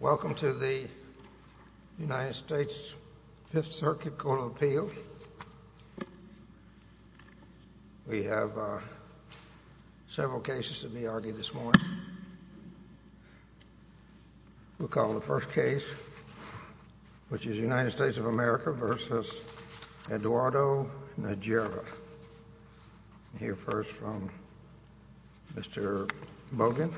Welcome to the United States Fifth Circuit Court of Appeal. We have several cases to be argued this morning. We'll call the first case, which is United States of America v. Eduardo Najera. I'll hear first from Mr. Bogan.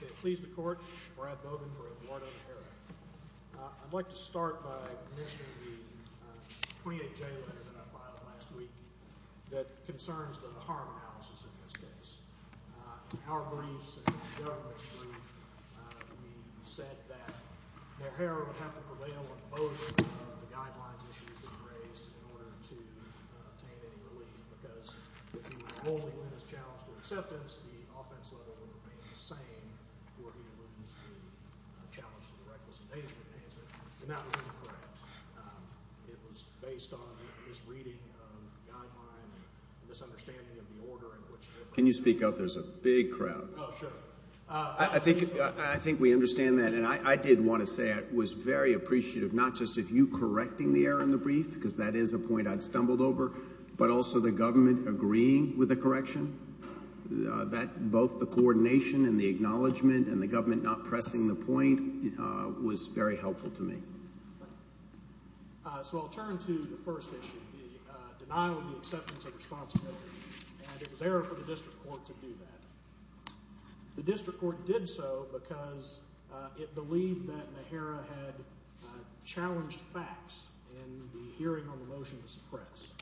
May it please the Court, Brad Bogan for Eduardo Najera. I'd like to start by mentioning the 28-J letter that I filed last week that concerns the harm analysis in this case. In our briefs and in the government's brief, we said that Najera would have to prevail on both of the guidelines issues that were raised in order to obtain any relief, because if he were rolling in his challenge for acceptance, the offense level would remain the same for the evidence to challenge the reckless endangerment answer, and that was incorrect. It was based on his reading of the guideline and misunderstanding of the order in which it was— Can you speak up? There's a big crowd. Oh, sure. I think we understand that, and I did want to say I was very appreciative not just of you correcting the error in the brief, because that is a point I'd stumbled over, but also the government agreeing with the correction, both the coordination and the acknowledgement and the government not pressing the point was very helpful to me. So I'll turn to the first issue, the denial of the acceptance of responsibility, and it was error for the district court to do that. The district court did so because it believed that Najera had challenged facts in the hearing on the motion to suppress,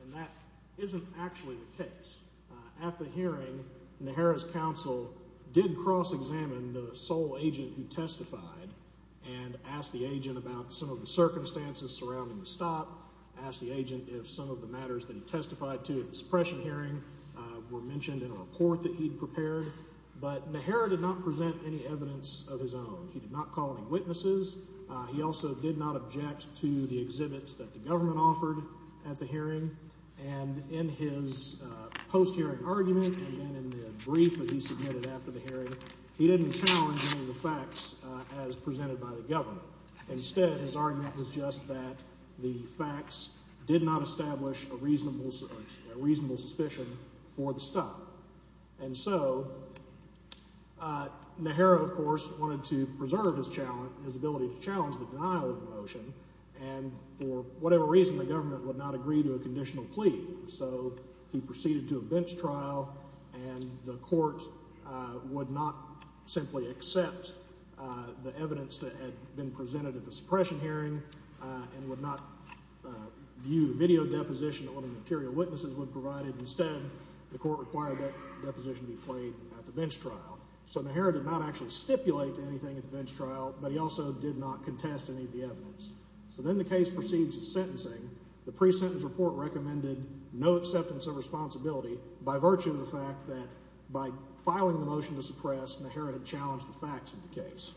and that isn't actually the case. At the hearing, Najera's counsel did cross-examine the sole agent who testified and asked the agent about some of the circumstances surrounding the stop, asked the agent if some of the matters that he testified to at the suppression hearing were mentioned in a report that he'd prepared, but Najera did not present any evidence of his own. He did not call any witnesses. He also did not object to the exhibits that the government offered at the hearing, and in his post-hearing argument and then in the brief that he submitted after the hearing, he didn't challenge any of the facts as presented by the government. Instead, his argument was just that the facts did not establish a reasonable suspicion for the stop. And so Najera, of course, wanted to preserve his ability to challenge the denial of the motion, and for whatever reason the government would not agree to a conditional plea. So he proceeded to a bench trial, and the court would not simply accept the evidence that had been presented at the suppression hearing and would not view the video deposition that one of the interior witnesses would have provided. Instead, the court required that deposition be played at the bench trial. So Najera did not actually stipulate anything at the bench trial, but he also did not contest any of the evidence. So then the case proceeds to sentencing. The pre-sentence report recommended no acceptance of responsibility by virtue of the fact that by filing the motion to suppress, Najera had challenged the facts of the case.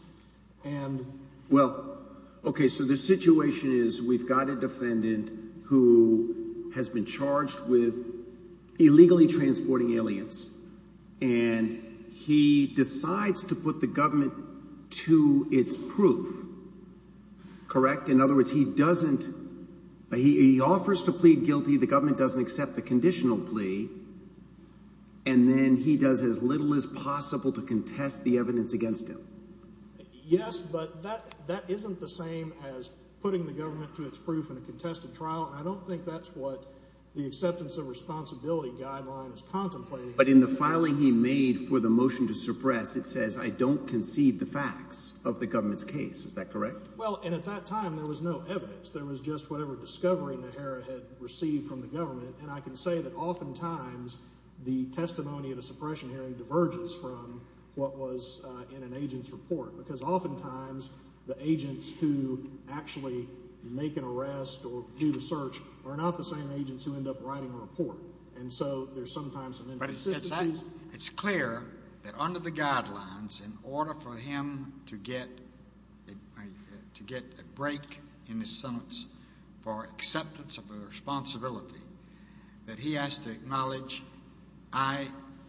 Well, okay, so the situation is we've got a defendant who has been charged with illegally transporting aliens, and he decides to put the government to its proof, correct? In other words, he doesn't – he offers to plead guilty. The government doesn't accept the conditional plea, and then he does as little as possible to contest the evidence against him. Yes, but that isn't the same as putting the government to its proof in a contested trial, and I don't think that's what the acceptance of responsibility guideline is contemplating. But in the filing he made for the motion to suppress, it says, I don't concede the facts of the government's case. Is that correct? Well, and at that time there was no evidence. There was just whatever discovery Najera had received from the government, and I can say that oftentimes the testimony in a suppression hearing diverges from what was in an agent's report because oftentimes the agents who actually make an arrest or do the search are not the same agents who end up writing a report, and so there's sometimes some inconsistencies. It's clear that under the guidelines in order for him to get a break in his sentence for acceptance of a responsibility that he has to acknowledge I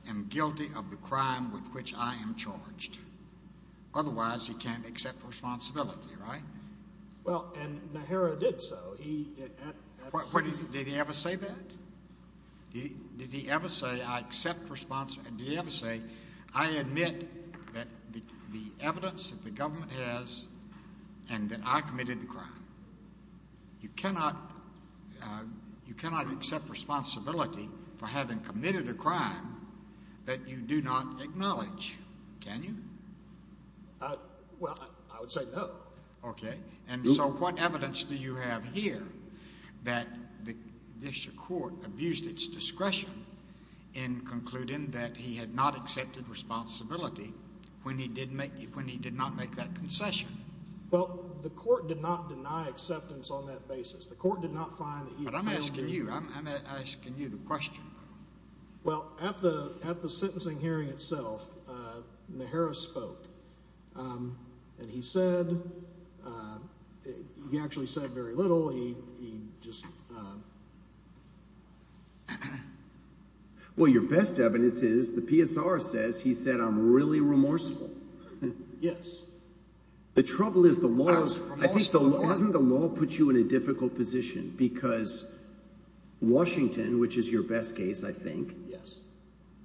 am guilty of the crime with which I am charged. Otherwise he can't accept responsibility, right? Well, and Najera did so. Did he ever say that? Did he ever say I admit that the evidence that the government has and that I committed the crime? You cannot accept responsibility for having committed a crime that you do not acknowledge, can you? Well, I would say no. Okay. And so what evidence do you have here that the district court abused its discretion in concluding that he had not accepted responsibility when he did not make that concession? Well, the court did not deny acceptance on that basis. The court did not find that he had failed to do that. But I'm asking you. I'm asking you the question. Well, at the sentencing hearing itself, Najera spoke, and he said – he actually said very little. He just – well, your best evidence is the PSR says he said I'm really remorseful. Yes. The trouble is the law is – I think the law – hasn't the law put you in a difficult position because Washington, which is your best case, I think. Yes.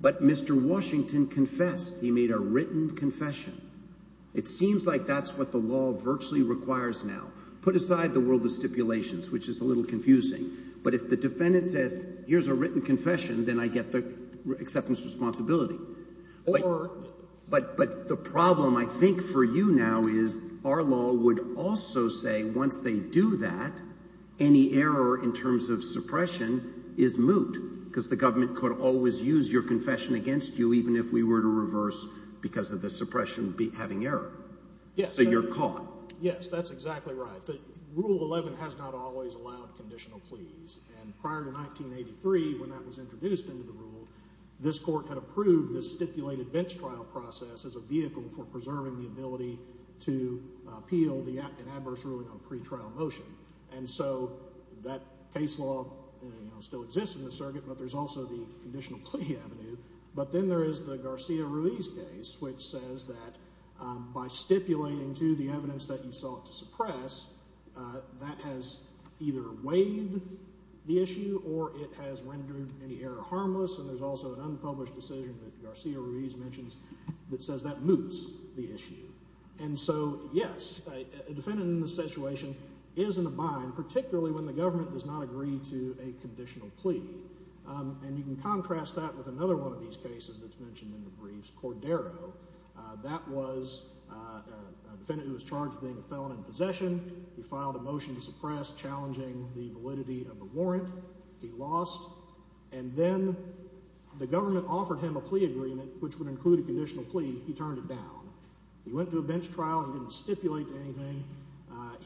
But Mr. Washington confessed. He made a written confession. It seems like that's what the law virtually requires now. Put aside the world of stipulations, which is a little confusing. But if the defendant says here's a written confession, then I get the acceptance of responsibility. Or – But the problem I think for you now is our law would also say once they do that, any error in terms of suppression is moot because the government could always use your confession against you even if we were to reverse because of the suppression having error. Yes. So you're caught. Yes, that's exactly right. Rule 11 has not always allowed conditional pleas. And prior to 1983 when that was introduced into the rule, this court had approved this stipulated bench trial process as a vehicle for preserving the ability to appeal an adverse ruling on pretrial motion. And so that case law still exists in the circuit, but there's also the conditional plea avenue. But then there is the Garcia-Ruiz case, which says that by stipulating to the evidence that you sought to suppress, that has either weighed the issue or it has rendered any error harmless. And there's also an unpublished decision that Garcia-Ruiz mentions that says that moots the issue. And so, yes, a defendant in this situation is in a bind, particularly when the government does not agree to a conditional plea. And you can contrast that with another one of these cases that's mentioned in the briefs, Cordero. That was a defendant who was charged with being a felon in possession. He filed a motion to suppress, challenging the validity of the warrant. He lost. And then the government offered him a plea agreement, which would include a conditional plea. He turned it down. He went to a bench trial. He didn't stipulate to anything.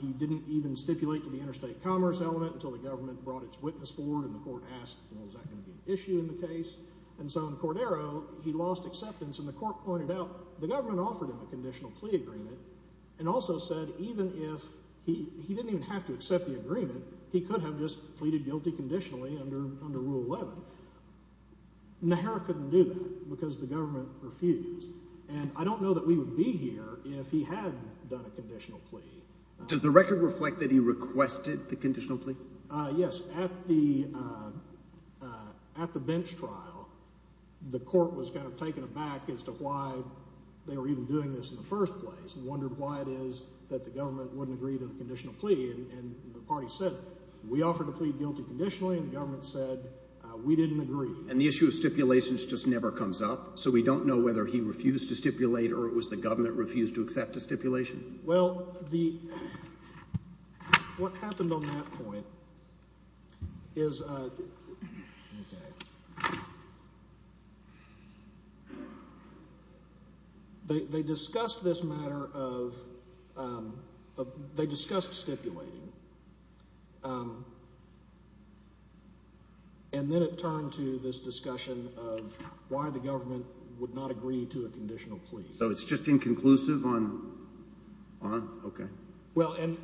He didn't even stipulate to the interstate commerce element until the government brought its witness forward and the court asked, well, is that going to be an issue in the case? And so in Cordero, he lost acceptance, and the court pointed out the government offered him a conditional plea agreement and also said even if he didn't even have to accept the agreement, he could have just pleaded guilty conditionally under Rule 11. Nehera couldn't do that because the government refused. And I don't know that we would be here if he had done a conditional plea. Does the record reflect that he requested the conditional plea? Yes. At the bench trial, the court was kind of taken aback as to why they were even doing this in the first place and wondered why it is that the government wouldn't agree to the conditional plea, and the party said it. We offered a plea guilty conditionally, and the government said we didn't agree. And the issue of stipulations just never comes up, so we don't know whether he refused to stipulate or it was the government refused to accept a stipulation. Well, the – what happened on that point is – okay. They discussed this matter of – they discussed stipulating, and then it turned to this discussion of why the government would not agree to a conditional plea. So it's just inconclusive on – okay. Well, and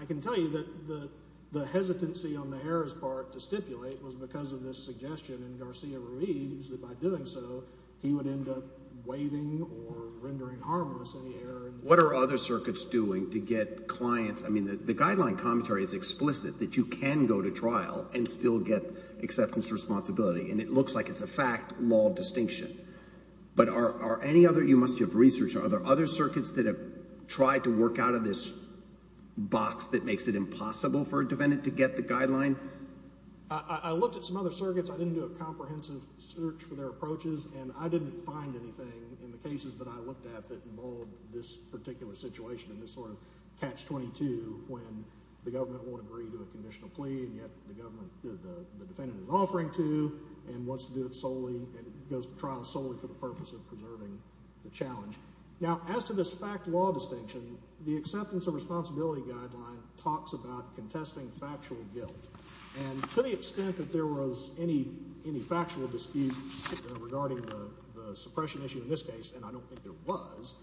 I can tell you that the hesitancy on Nehera's part to stipulate was because of this suggestion in Garcia-Ruiz that by doing so, he would end up waiving or rendering harmless any error. What are other circuits doing to get clients – I mean the guideline commentary is explicit that you can go to trial and still get acceptance responsibility, and it looks like it's a fact-law distinction. But are any other – you must have researched – are there other circuits that have tried to work out of this box that makes it impossible for a defendant to get the guideline? I looked at some other circuits. I didn't do a comprehensive search for their approaches, and I didn't find anything in the cases that I looked at that involved this particular situation and this sort of catch-22 when the government won't agree to a conditional plea, and yet the government – the defendant is offering to and wants to do it solely. It goes to trial solely for the purpose of preserving the challenge. Now, as to this fact-law distinction, the acceptance of responsibility guideline talks about contesting factual guilt, and to the extent that there was any factual dispute regarding the suppression issue in this case, and I don't think there was,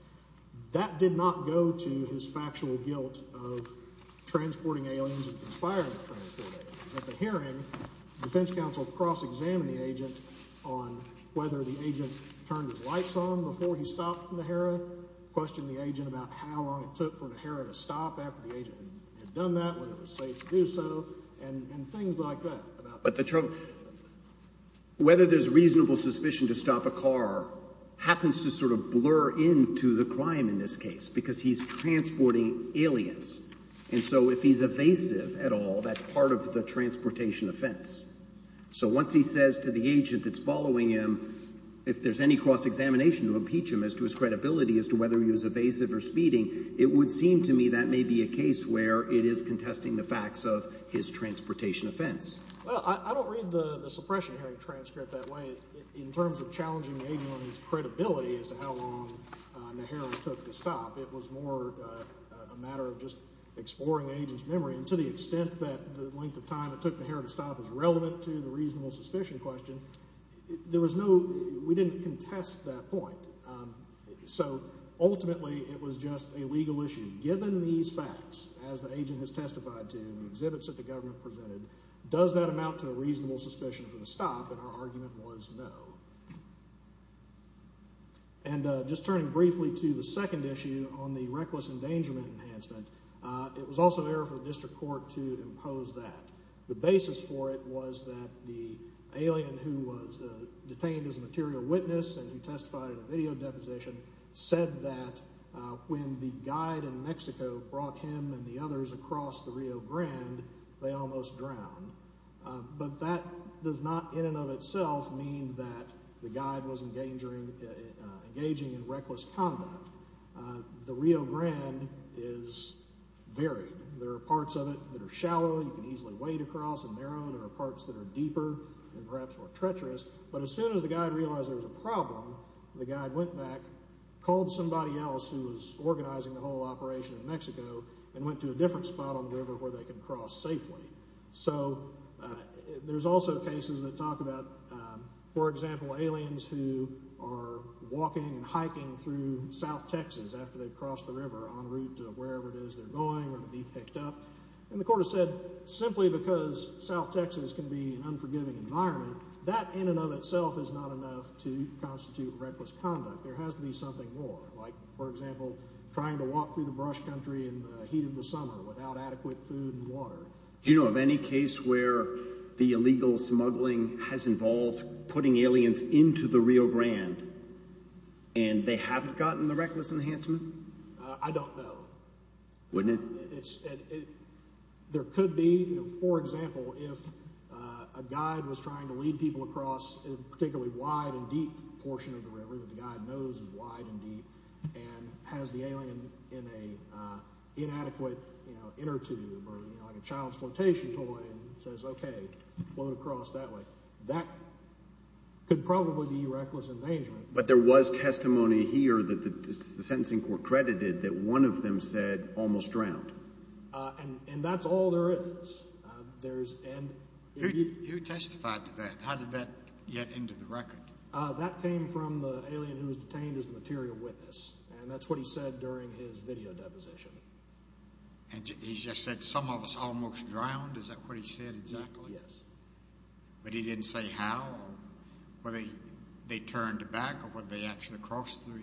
that did not go to his factual guilt of transporting aliens and conspiring to transport aliens. At the hearing, the defense counsel cross-examined the agent on whether the agent turned his lights on before he stopped the Mahara, questioned the agent about how long it took for Mahara to stop after the agent had done that, whether it was safe to do so, and things like that. But the – whether there's reasonable suspicion to stop a car happens to sort of blur into the crime in this case because he's transporting aliens. And so if he's evasive at all, that's part of the transportation offense. So once he says to the agent that's following him, if there's any cross-examination to impeach him as to his credibility as to whether he was evasive or speeding, it would seem to me that may be a case where it is contesting the facts of his transportation offense. Well, I don't read the suppression hearing transcript that way. In terms of challenging the agent on his credibility as to how long Mahara took to stop, it was more a matter of just exploring the agent's memory. And to the extent that the length of time it took Mahara to stop is relevant to the reasonable suspicion question, there was no – we didn't contest that point. So ultimately it was just a legal issue. Given these facts, as the agent has testified to in the exhibits that the government presented, does that amount to a reasonable suspicion for the stop? And our argument was no. And just turning briefly to the second issue on the reckless endangerment enhancement, it was also an error for the district court to impose that. The basis for it was that the alien who was detained as a material witness and who testified in a video deposition said that when the guide in Mexico brought him and the others across the Rio Grande, they almost drowned. But that does not in and of itself mean that the guide was engaging in reckless conduct. The Rio Grande is varied. There are parts of it that are shallow, you can easily wade across and narrow. There are parts that are deeper and perhaps more treacherous. But as soon as the guide realized there was a problem, the guide went back, called somebody else who was organizing the whole operation in Mexico, and went to a different spot on the river where they could cross safely. So there's also cases that talk about, for example, aliens who are walking and hiking through south Texas after they've crossed the river en route to wherever it is they're going or to be picked up. And the court has said simply because south Texas can be an unforgiving environment, that in and of itself is not enough to constitute reckless conduct. There has to be something more, like, for example, trying to walk through the brush country in the heat of the summer without adequate food and water. Do you know of any case where the illegal smuggling has involved putting aliens into the Rio Grande and they haven't gotten the reckless enhancement? I don't know. Wouldn't it? There could be, for example, if a guide was trying to lead people across a particularly wide and deep portion of the river that the guide knows is wide and deep and has the alien in an inadequate inner tube or like a child's flotation toy and says, okay, float across that way. That could probably be reckless endangerment. But there was testimony here that the sentencing court credited that one of them said almost drowned. And that's all there is. You testified to that. How did that get into the record? That came from the alien who was detained as a material witness, and that's what he said during his video deposition. And he just said some of us almost drowned? Is that what he said exactly? Yes. But he didn't say how? Whether they turned back or whether they actually crossed the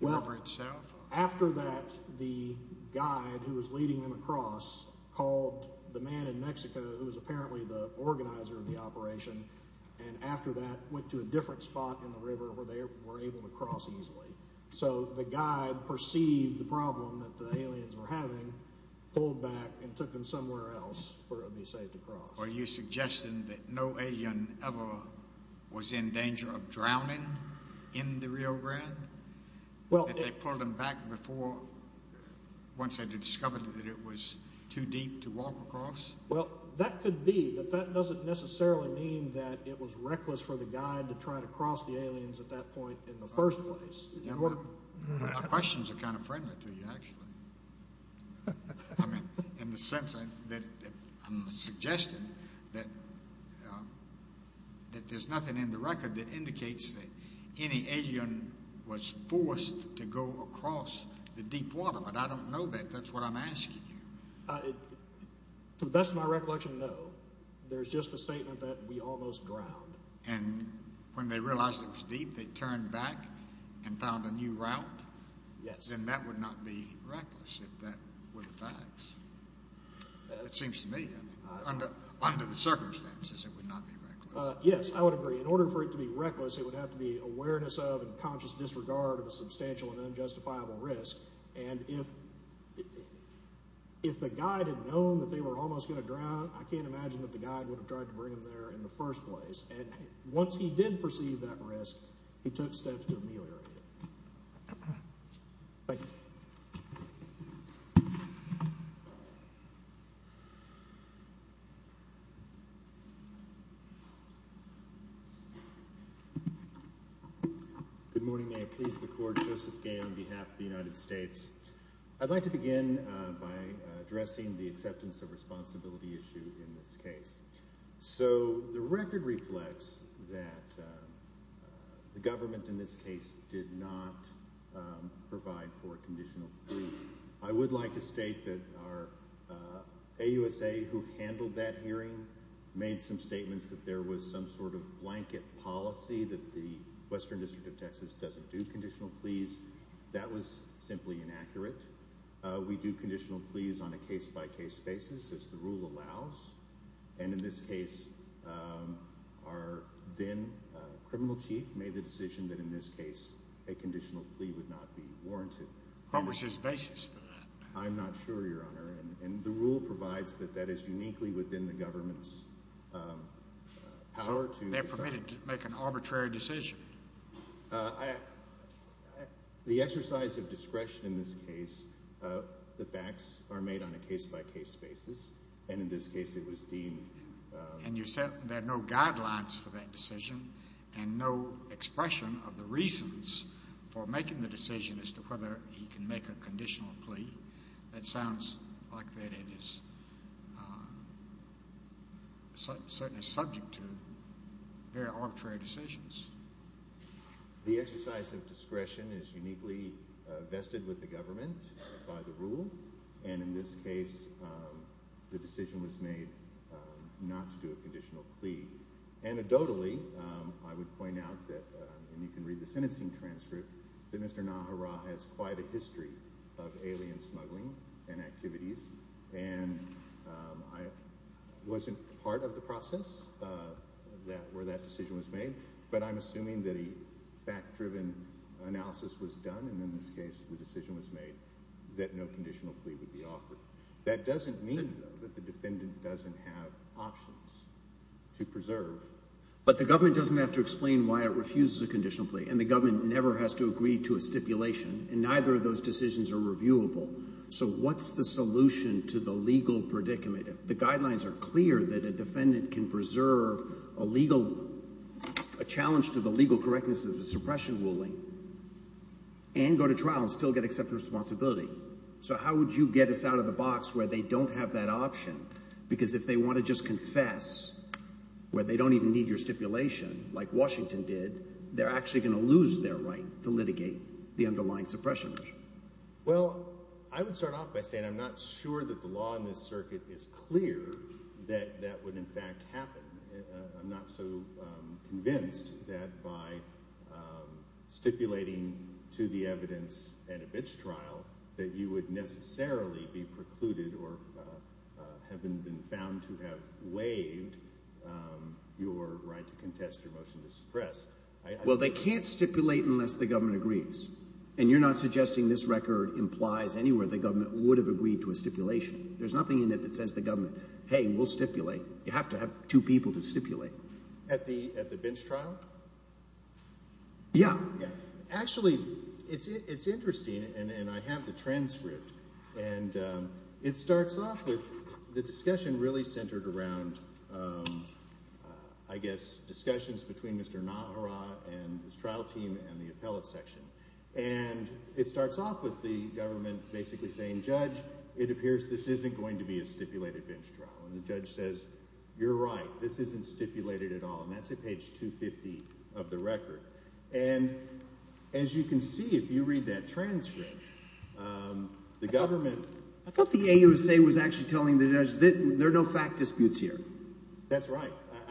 river itself? After that, the guide who was leading them across called the man in Mexico who was apparently the organizer of the operation, and after that went to a different spot in the river where they were able to cross easily. So the guide perceived the problem that the aliens were having, pulled back, and took them somewhere else where it would be safe to cross. Are you suggesting that no alien ever was in danger of drowning in the Rio Grande, that they pulled them back before once they discovered that it was too deep to walk across? Well, that could be, but that doesn't necessarily mean that it was reckless for the guide to try to cross the aliens at that point in the first place. My questions are kind of friendly to you, actually, in the sense that I'm suggesting that there's nothing in the record that indicates that any alien was forced to go across the deep water, but I don't know that. That's what I'm asking you. To the best of my recollection, no. There's just the statement that we almost drowned. And when they realized it was deep, they turned back and found a new route? Yes. Then that would not be reckless if that were the facts, it seems to me. Under the circumstances, it would not be reckless. Yes, I would agree. In order for it to be reckless, it would have to be awareness of and conscious disregard of a substantial and unjustifiable risk. And if the guide had known that they were almost going to drown, I can't imagine that the guide would have tried to bring them there in the first place. And once he did perceive that risk, he took steps to ameliorate it. Thank you. Good morning. May it please the Court. Joseph Gay on behalf of the United States. I'd like to begin by addressing the acceptance of responsibility issue in this case. So the record reflects that the government in this case did not provide for a conditional plea. I would like to state that our AUSA who handled that hearing made some statements that there was some sort of blanket policy that the Western District of Texas doesn't do conditional pleas. That was simply inaccurate. We do conditional pleas on a case-by-case basis, as the rule allows. And in this case, our then criminal chief made the decision that in this case a conditional plea would not be warranted. What was his basis for that? I'm not sure, Your Honor. And the rule provides that that is uniquely within the government's power to decide. So they're permitted to make an arbitrary decision? The exercise of discretion in this case, the facts are made on a case-by-case basis, and in this case it was deemed. And you said there are no guidelines for that decision and no expression of the reasons for making the decision as to whether he can make a conditional plea. That sounds like it is subject to very arbitrary decisions. The exercise of discretion is uniquely vested with the government by the rule, and in this case the decision was made not to do a conditional plea. Anecdotally, I would point out that, and you can read the sentencing transcript, that Mr. Nahara has quite a history of alien smuggling and activities. And I wasn't part of the process where that decision was made, but I'm assuming that a fact-driven analysis was done, and in this case the decision was made that no conditional plea would be offered. That doesn't mean, though, that the defendant doesn't have options to preserve. But the government doesn't have to explain why it refuses a conditional plea, and the government never has to agree to a stipulation, and neither of those decisions are reviewable. So what's the solution to the legal predicament? The guidelines are clear that a defendant can preserve a legal – a challenge to the legal correctness of the suppression ruling and go to trial and still get accepted responsibility. So how would you get us out of the box where they don't have that option? Because if they want to just confess where they don't even need your stipulation, like Washington did, they're actually going to lose their right to litigate the underlying suppression measure. Well, I would start off by saying I'm not sure that the law in this circuit is clear that that would in fact happen. I'm not so convinced that by stipulating to the evidence at a bitch trial that you would necessarily be precluded or have been found to have waived your right to contest your motion to suppress. Well, they can't stipulate unless the government agrees, and you're not suggesting this record implies anywhere the government would have agreed to a stipulation. There's nothing in it that says the government, hey, we'll stipulate. You have to have two people to stipulate. At the bitch trial? Yeah. Actually, it's interesting, and I have the transcript, and it starts off with the discussion really centered around, I guess, discussions between Mr. Nahara and his trial team and the appellate section. And it starts off with the government basically saying, Judge, it appears this isn't going to be a stipulated bench trial. And the judge says, You're right. This isn't stipulated at all. And that's at page 250 of the record. And as you can see, if you read that transcript, the government – I thought the AUSA was actually telling the judge there are no fact disputes here. That's right.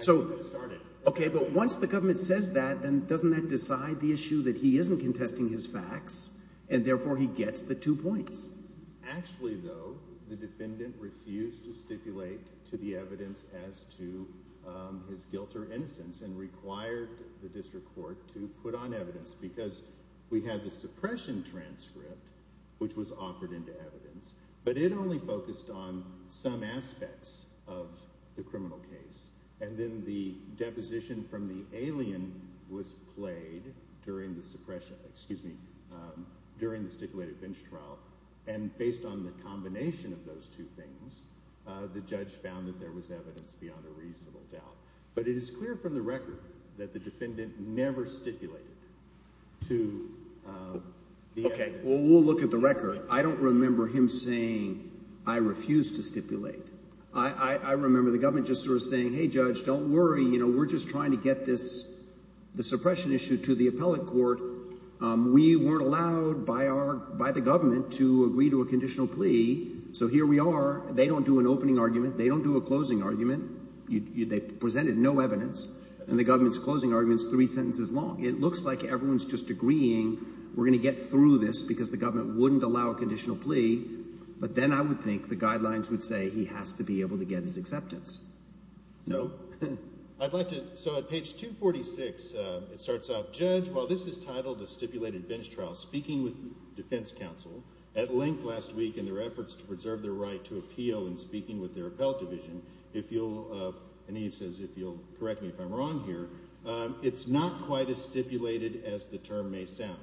Okay, but once the government says that, then doesn't that decide the issue that he isn't contesting his facts, and therefore he gets the two points? Actually, though, the defendant refused to stipulate to the evidence as to his guilt or innocence and required the district court to put on evidence because we had the suppression transcript, which was offered into evidence. But it only focused on some aspects of the criminal case. And then the deposition from the alien was played during the suppression – excuse me, during the stipulated bench trial. And based on the combination of those two things, the judge found that there was evidence beyond a reasonable doubt. But it is clear from the record that the defendant never stipulated to the evidence. Okay, well, we'll look at the record. I don't remember him saying, I refuse to stipulate. I remember the government just sort of saying, hey, judge, don't worry. We're just trying to get this – the suppression issue to the appellate court. We weren't allowed by our – by the government to agree to a conditional plea, so here we are. They don't do an opening argument. They don't do a closing argument. They presented no evidence, and the government's closing argument is three sentences long. It looks like everyone is just agreeing we're going to get through this because the government wouldn't allow a conditional plea. But then I would think the guidelines would say he has to be able to get his acceptance. No? I'd like to – so at page 246, it starts off, Judge, while this is titled a stipulated bench trial, speaking with the defense counsel, at length last week in their efforts to preserve their right to appeal in speaking with their appellate division, if you'll – and he says if you'll correct me if I'm wrong here – it's not quite as stipulated as the term may sound.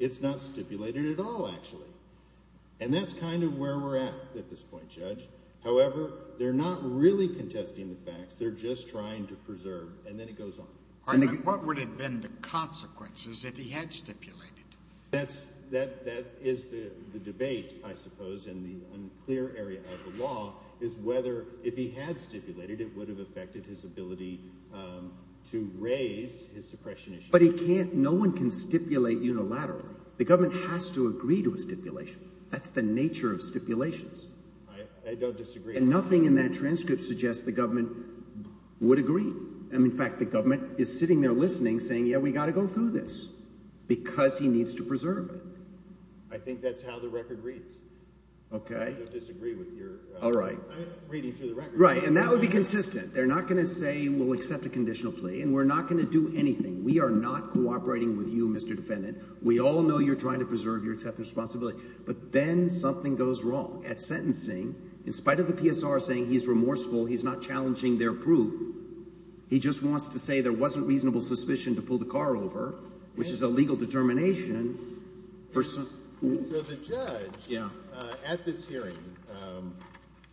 It's not stipulated at all, actually, and that's kind of where we're at at this point, Judge. However, they're not really contesting the facts. They're just trying to preserve, and then it goes on. What would have been the consequences if he had stipulated? That's – that is the debate, I suppose, in the unclear area of the law is whether if he had stipulated, it would have affected his ability to raise his suppression issue. But he can't – no one can stipulate unilaterally. The government has to agree to a stipulation. That's the nature of stipulations. I don't disagree. And nothing in that transcript suggests the government would agree. In fact, the government is sitting there listening, saying, yeah, we've got to go through this because he needs to preserve it. I think that's how the record reads. Okay. I don't disagree with your – All right. – reading through the record. Right, and that would be consistent. They're not going to say we'll accept a conditional plea and we're not going to do anything. We are not cooperating with you, Mr. Defendant. We all know you're trying to preserve your acceptance of responsibility. But then something goes wrong. At sentencing, in spite of the PSR saying he's remorseful, he's not challenging their proof, he just wants to say there wasn't reasonable suspicion to pull the car over, which is a legal determination for – So the judge at this hearing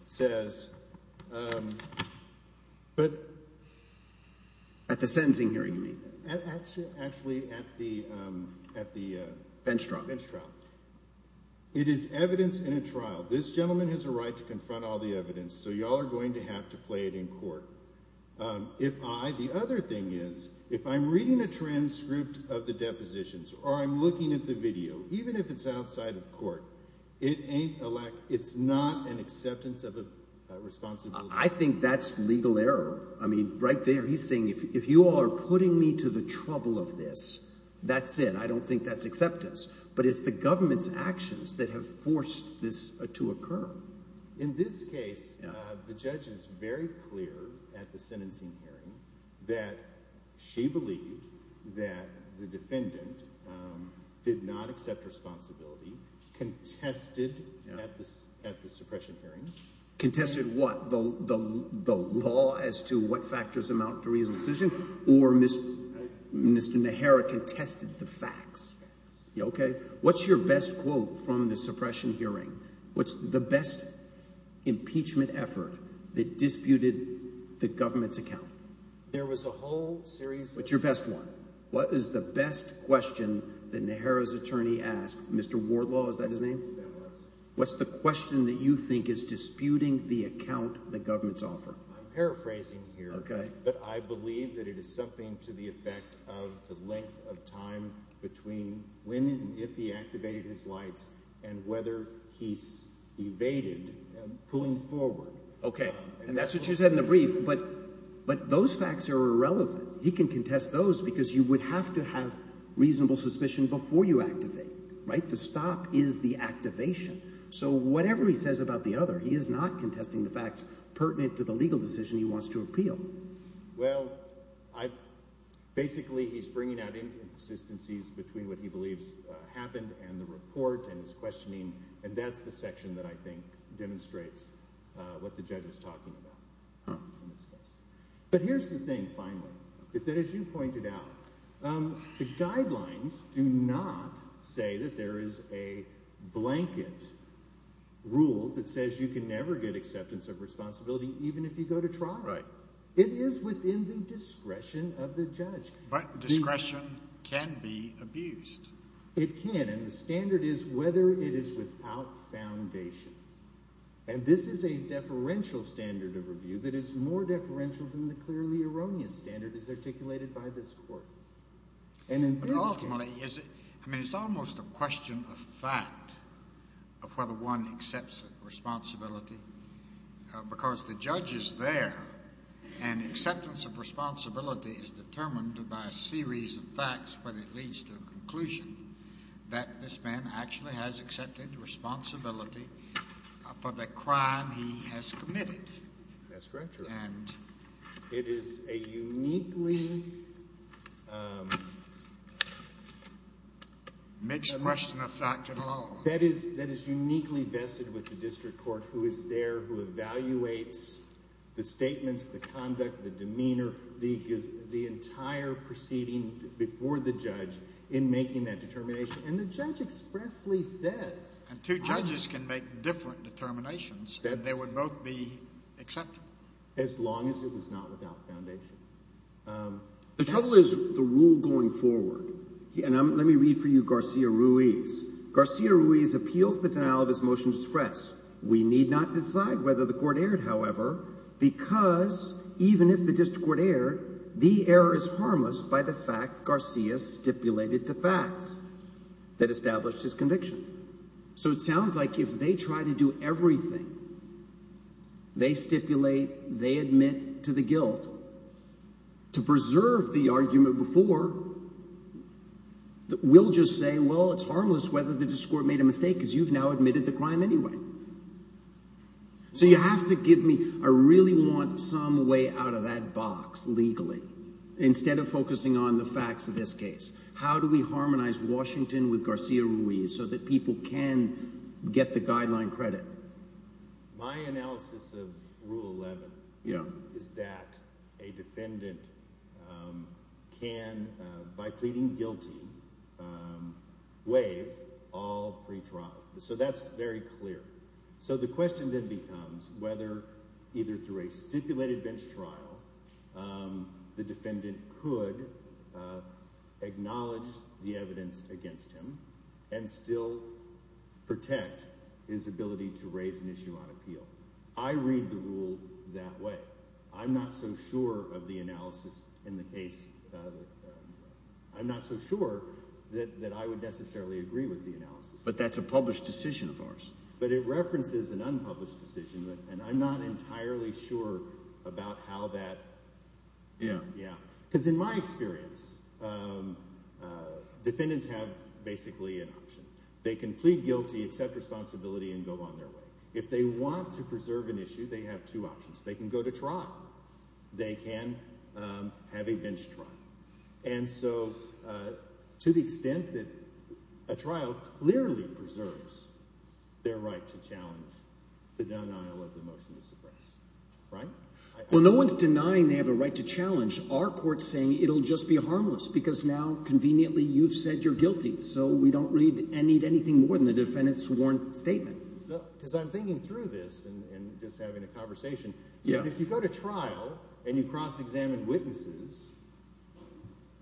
says – At the sentencing hearing, you mean? Actually, at the – Bench trial. Bench trial. It is evidence in a trial. This gentleman has a right to confront all the evidence, so you all are going to have to play it in court. The other thing is if I'm reading a transcript of the depositions or I'm looking at the video, even if it's outside of court, it's not an acceptance of responsibility. I think that's legal error. I mean right there he's saying if you all are putting me to the trouble of this, that's it. I don't think that's acceptance. But it's the government's actions that have forced this to occur. In this case, the judge is very clear at the sentencing hearing that she believed that the defendant did not accept responsibility, contested at the suppression hearing. Contested what? The law as to what factors amount to reasonable suspicion? Or Mr. Nehera contested the facts? Okay. What's your best quote from the suppression hearing? What's the best impeachment effort that disputed the government's account? There was a whole series of… What's your best one? What is the best question that Nehera's attorney asked? Mr. Wardlaw, is that his name? That was. What's the question that you think is disputing the account the government's offer? I'm paraphrasing here. Okay. But I believe that it is something to the effect of the length of time between when and if he activated his lights and whether he evaded pulling forward. Okay. And that's what you said in the brief. But those facts are irrelevant. He can contest those because you would have to have reasonable suspicion before you activate. The stop is the activation. So whatever he says about the other, he is not contesting the facts pertinent to the legal decision he wants to appeal. Well, basically he's bringing out inconsistencies between what he believes happened and the report and his questioning, and that's the section that I think demonstrates what the judge is talking about. Huh. Rule that says you can never get acceptance of responsibility even if you go to trial. Right. It is within the discretion of the judge. But discretion can be abused. It can. And the standard is whether it is without foundation. And this is a deferential standard of review that is more deferential than the clearly erroneous standard as articulated by this court. But ultimately, I mean, it's almost a question of fact of whether one accepts responsibility because the judge is there and acceptance of responsibility is determined by a series of facts when it leads to a conclusion that this man actually has accepted responsibility for the crime he has committed. That's very true. It is a uniquely… Mixed question of fact and law. That is uniquely vested with the district court who is there, who evaluates the statements, the conduct, the demeanor, the entire proceeding before the judge in making that determination. And the judge expressly says… And two judges can make different determinations and they would both be accepted. As long as it was not without foundation. The trouble is the rule going forward. And let me read for you Garcia-Ruiz. Garcia-Ruiz appeals the denial of his motion to express. We need not decide whether the court erred, however, because even if the district court erred, the error is harmless by the fact Garcia stipulated to facts that established his conviction. So it sounds like if they try to do everything, they stipulate, they admit to the guilt, to preserve the argument before, we'll just say, well, it's harmless whether the district court made a mistake because you've now admitted the crime anyway. So you have to give me – I really want some way out of that box legally instead of focusing on the facts of this case. How do we harmonize Washington with Garcia-Ruiz so that people can get the guideline credit? My analysis of Rule 11 is that a defendant can, by pleading guilty, waive all pretrial. So that's very clear. So the question then becomes whether either through a stipulated bench trial the defendant could acknowledge the evidence against him and still protect his ability to raise an issue on appeal. I read the rule that way. I'm not so sure of the analysis in the case – I'm not so sure that I would necessarily agree with the analysis. But that's a published decision of ours. But it references an unpublished decision, and I'm not entirely sure about how that – because in my experience, defendants have basically an option. They can plead guilty, accept responsibility, and go on their way. If they want to preserve an issue, they have two options. They can go to trial. They can have a bench trial. And so to the extent that a trial clearly preserves their right to challenge the denial of the motion to suppress – right? Well, no one is denying they have a right to challenge. Our court is saying it will just be harmless because now, conveniently, you've said you're guilty. So we don't read and need anything more than the defendant's sworn statement. Because I'm thinking through this and just having a conversation. If you go to trial and you cross-examine witnesses,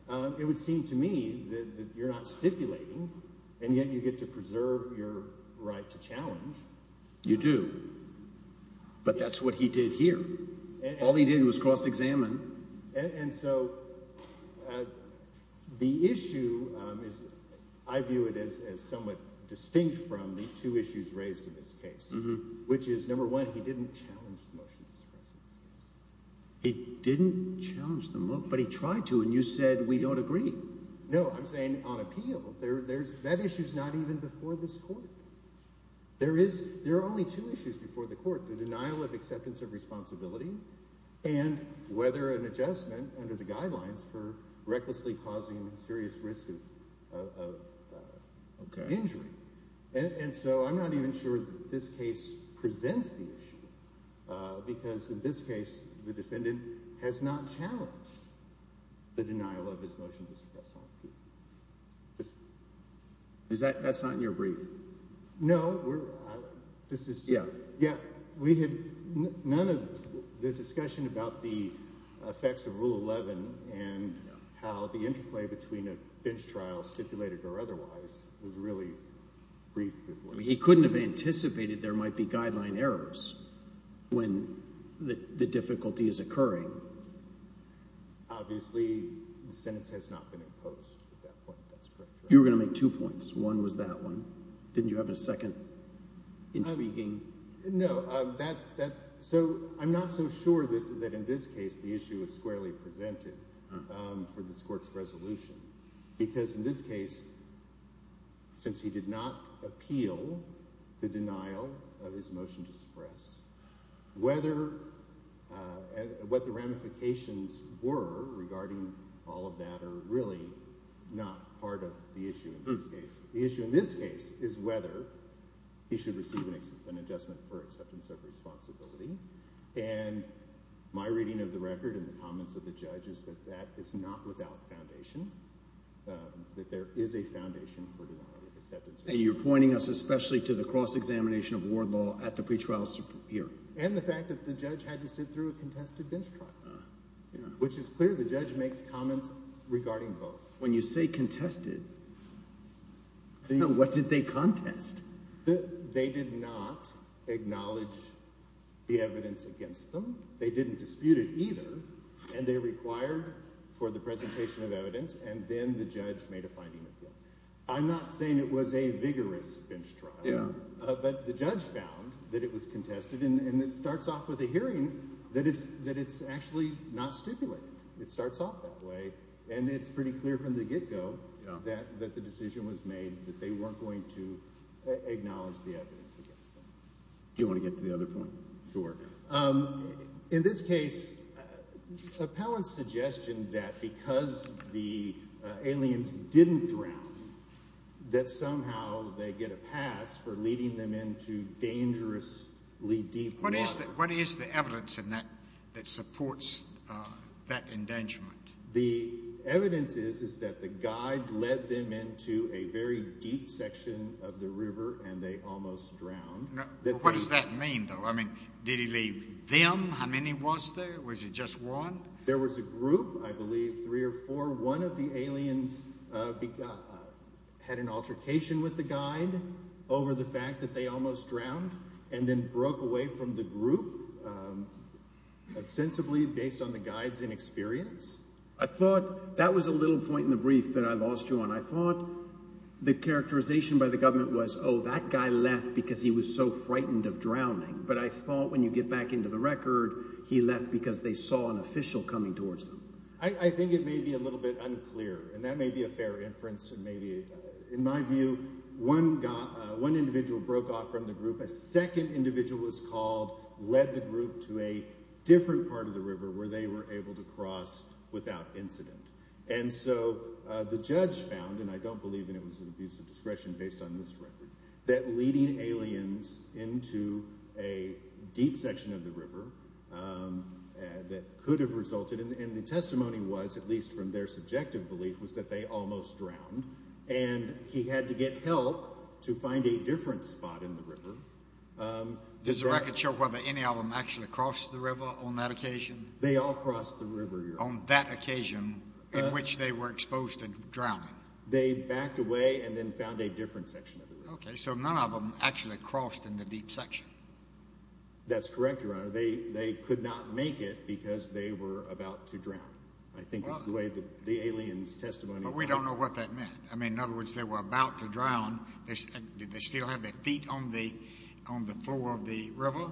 it would seem to me that you're not stipulating, and yet you get to preserve your right to challenge. You do. But that's what he did here. All he did was cross-examine. And so the issue is – I view it as somewhat distinct from the two issues raised in this case, which is, number one, he didn't challenge the motion to suppress. He didn't challenge the motion, but he tried to, and you said we don't agree. No, I'm saying on appeal. That issue is not even before this court. There are only two issues before the court, the denial of acceptance of responsibility and whether an adjustment under the guidelines for recklessly causing serious risk of injury. And so I'm not even sure that this case presents the issue because in this case the defendant has not challenged the denial of his motion to suppress on appeal. Is that – that's not in your brief? No. This is – yeah. We had none of the discussion about the effects of Rule 11 and how the interplay between a bench trial, stipulated or otherwise, was really briefed before. He couldn't have anticipated there might be guideline errors when the difficulty is occurring. Obviously, the sentence has not been imposed at that point. That's correct. You were going to make two points. One was that one. Didn't you have a second intriguing – were regarding all of that are really not part of the issue in this case. The issue in this case is whether he should receive an adjustment for acceptance of responsibility. And my reading of the record and the comments of the judge is that that is not without foundation, that there is a foundation for denial of acceptance. And you're pointing us especially to the cross-examination of ward law at the pretrial hearing. And the fact that the judge had to sit through a contested bench trial, which is clear. The judge makes comments regarding both. When you say contested, what did they contest? They did not acknowledge the evidence against them. They didn't dispute it either, and they required for the presentation of evidence, and then the judge made a finding of that. I'm not saying it was a vigorous bench trial. But the judge found that it was contested, and it starts off with a hearing that it's actually not stipulated. It starts off that way, and it's pretty clear from the get-go that the decision was made that they weren't going to acknowledge the evidence against them. Do you want to get to the other point? Sure. In this case, Appellant's suggestion that because the aliens didn't drown, that somehow they get a pass for leading them into dangerously deep water. What is the evidence in that that supports that endangerment? The evidence is that the guide led them into a very deep section of the river, and they almost drowned. What does that mean, though? I mean did he leave them? How many was there? Was it just one? There was a group, I believe, three or four. One of the aliens had an altercation with the guide over the fact that they almost drowned and then broke away from the group, ostensibly based on the guide's inexperience. I thought that was a little point in the brief that I lost you on. I thought the characterization by the government was, oh, that guy left because he was so frightened of drowning. But I thought when you get back into the record, he left because they saw an official coming towards them. I think it may be a little bit unclear, and that may be a fair inference. In my view, one individual broke off from the group. A second individual was called, led the group to a different part of the river where they were able to cross without incident. And so the judge found, and I don't believe it was an abuse of discretion based on this record, that leading aliens into a deep section of the river that could have resulted, and the testimony was, at least from their subjective belief, was that they almost drowned. And he had to get help to find a different spot in the river. Does the record show whether any of them actually crossed the river on that occasion? They all crossed the river. On that occasion in which they were exposed to drowning. They backed away and then found a different section of the river. Okay, so none of them actually crossed in the deep section. That's correct, Your Honor. They could not make it because they were about to drown. I think that's the way the aliens' testimony was. But we don't know what that meant. I mean, in other words, they were about to drown. Did they still have their feet on the floor of the river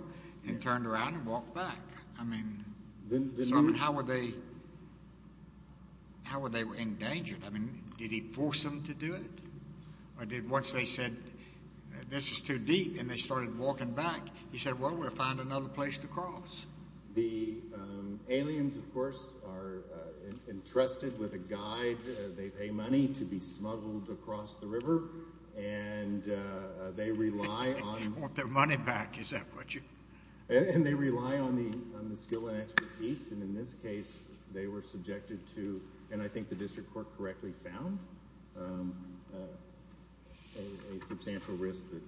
and turned around and walked back? I mean, how were they endangered? I mean, did he force them to do it? Once they said, this is too deep, and they started walking back, he said, well, we'll find another place to cross. The aliens, of course, are entrusted with a guide. They pay money to be smuggled across the river, and they rely on— They want their money back, is that what you— And they rely on the skill and expertise, and in this case, they were subjected to, and I think the district court correctly found, a substantial risk that—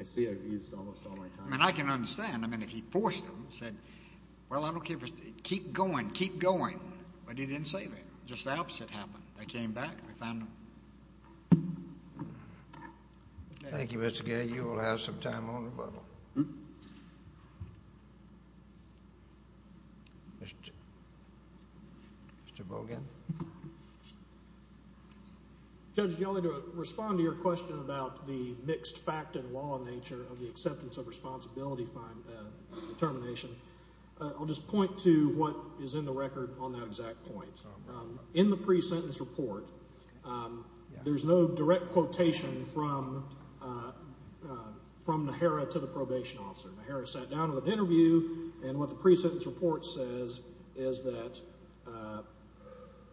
I see I've used almost all my time. I mean, I can understand. I mean, if he forced them, said, well, I don't care, keep going, keep going, but he didn't say that. Just the opposite happened. They came back. I found them. Thank you, Mr. Gay. You will have some time on the button. Mr. Bogan. Judge, do you want me to respond to your question about the mixed fact and law nature of the acceptance of responsibility determination? I'll just point to what is in the record on that exact point. In the pre-sentence report, there's no direct quotation from Najera to the probation officer. Najera sat down with an interview, and what the pre-sentence report says is that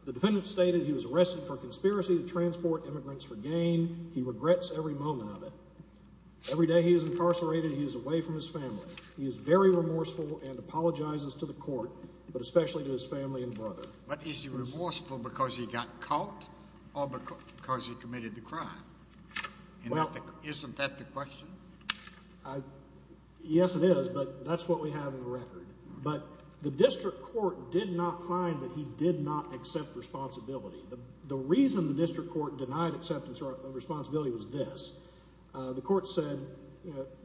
the defendant stated he was arrested for conspiracy to transport immigrants for gain. He regrets every moment of it. Every day he is incarcerated, he is away from his family. He is very remorseful and apologizes to the court, but especially to his family and brother. But is he remorseful because he got caught or because he committed the crime? Isn't that the question? Yes, it is, but that's what we have in the record. But the district court did not find that he did not accept responsibility. The reason the district court denied acceptance of responsibility was this. The court said,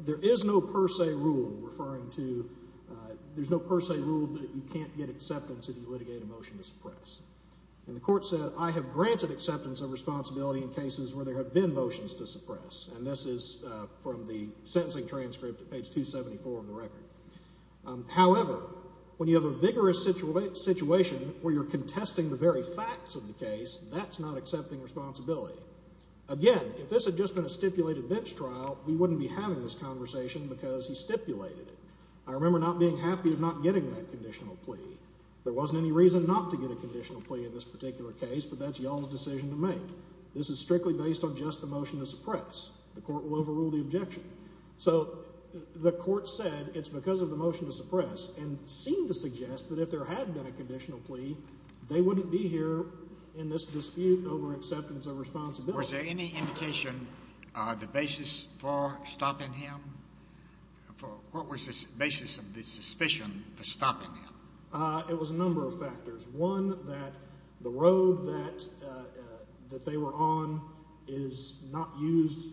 there is no per se rule referring to, there's no per se rule that you can't get acceptance if you litigate a motion to suppress. And the court said, I have granted acceptance of responsibility in cases where there have been motions to suppress. And this is from the sentencing transcript at page 274 of the record. However, when you have a vigorous situation where you're contesting the very facts of the case, that's not accepting responsibility. Again, if this had just been a stipulated bench trial, we wouldn't be having this conversation because he stipulated it. I remember not being happy of not getting that conditional plea. There wasn't any reason not to get a conditional plea in this particular case, but that's y'all's decision to make. This is strictly based on just the motion to suppress. The court will overrule the objection. So the court said it's because of the motion to suppress and seemed to suggest that if there had been a conditional plea, they wouldn't be here in this dispute over acceptance of responsibility. Was there any indication, the basis for stopping him? What was the basis of the suspicion for stopping him? It was a number of factors. One, that the road that they were on is not used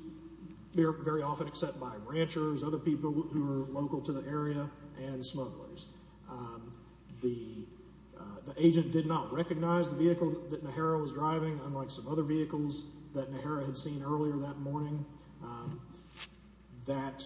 very often except by ranchers, other people who are local to the area, and smugglers. The agent did not recognize the vehicle that Nehara was driving, unlike some other vehicles that Nehara had seen earlier that morning. That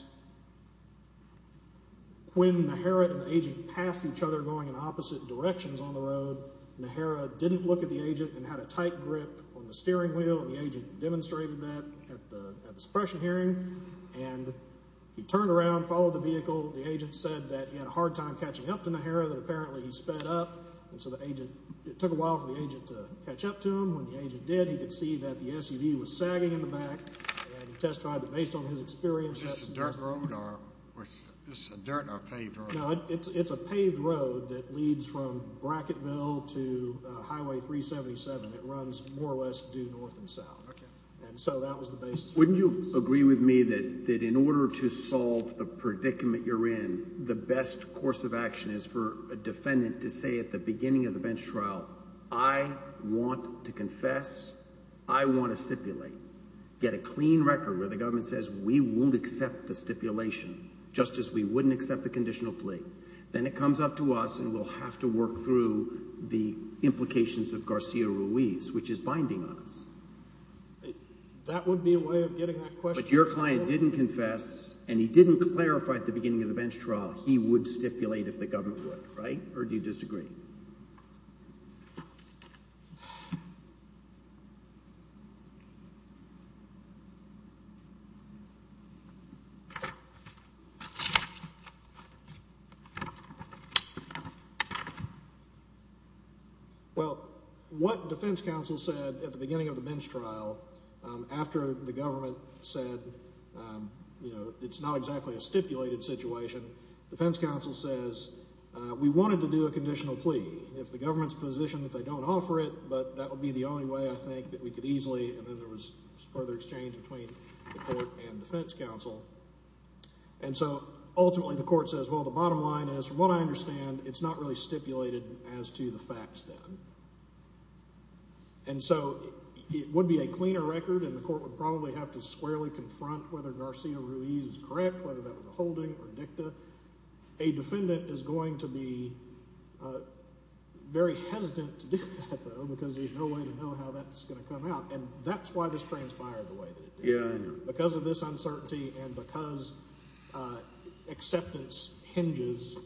when Nehara and the agent passed each other going in opposite directions on the road, Nehara didn't look at the agent and had a tight grip on the steering wheel. The agent demonstrated that at the suppression hearing, and he turned around, followed the vehicle. The agent said that he had a hard time catching up to Nehara, that apparently he sped up, and so it took a while for the agent to catch up to him. When the agent did, he could see that the SUV was sagging in the back, and he testified that based on his experience… Was this a dirt road or a paved road? No, it's a paved road that leads from Brackettville to Highway 377. It runs more or less due north and south, and so that was the basis. Wouldn't you agree with me that in order to solve the predicament you're in, the best course of action is for a defendant to say at the beginning of the bench trial, I want to confess, I want to stipulate, get a clean record where the government says we won't accept the stipulation, just as we wouldn't accept the conditional plea. Then it comes up to us and we'll have to work through the implications of Garcia Ruiz, which is binding on us. That would be a way of getting that question. But your client didn't confess, and he didn't clarify at the beginning of the bench trial he would stipulate if the government would, right? Or do you disagree? Well, what defense counsel said at the beginning of the bench trial, after the government said it's not exactly a stipulated situation, defense counsel says we wanted to do a conditional plea. If the government's positioned that they don't offer it, but that would be the only way I think that we could easily, and then there was further exchange between the court and defense counsel. And so ultimately the court says, well, the bottom line is, from what I understand, it's not really stipulated as to the facts then. And so it would be a cleaner record, and the court would probably have to squarely confront whether Garcia Ruiz is correct, whether that was a holding or dicta. A defendant is going to be very hesitant to do that, though, because there's no way to know how that's going to come out. And that's why this transpired the way that it did. Because of this uncertainty and because acceptance hinges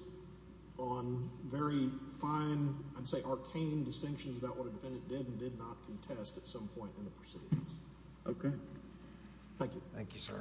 on very fine, I'd say arcane distinctions about what a defendant did and did not contest at some point in the proceedings. Okay. Thank you. Thank you, sir.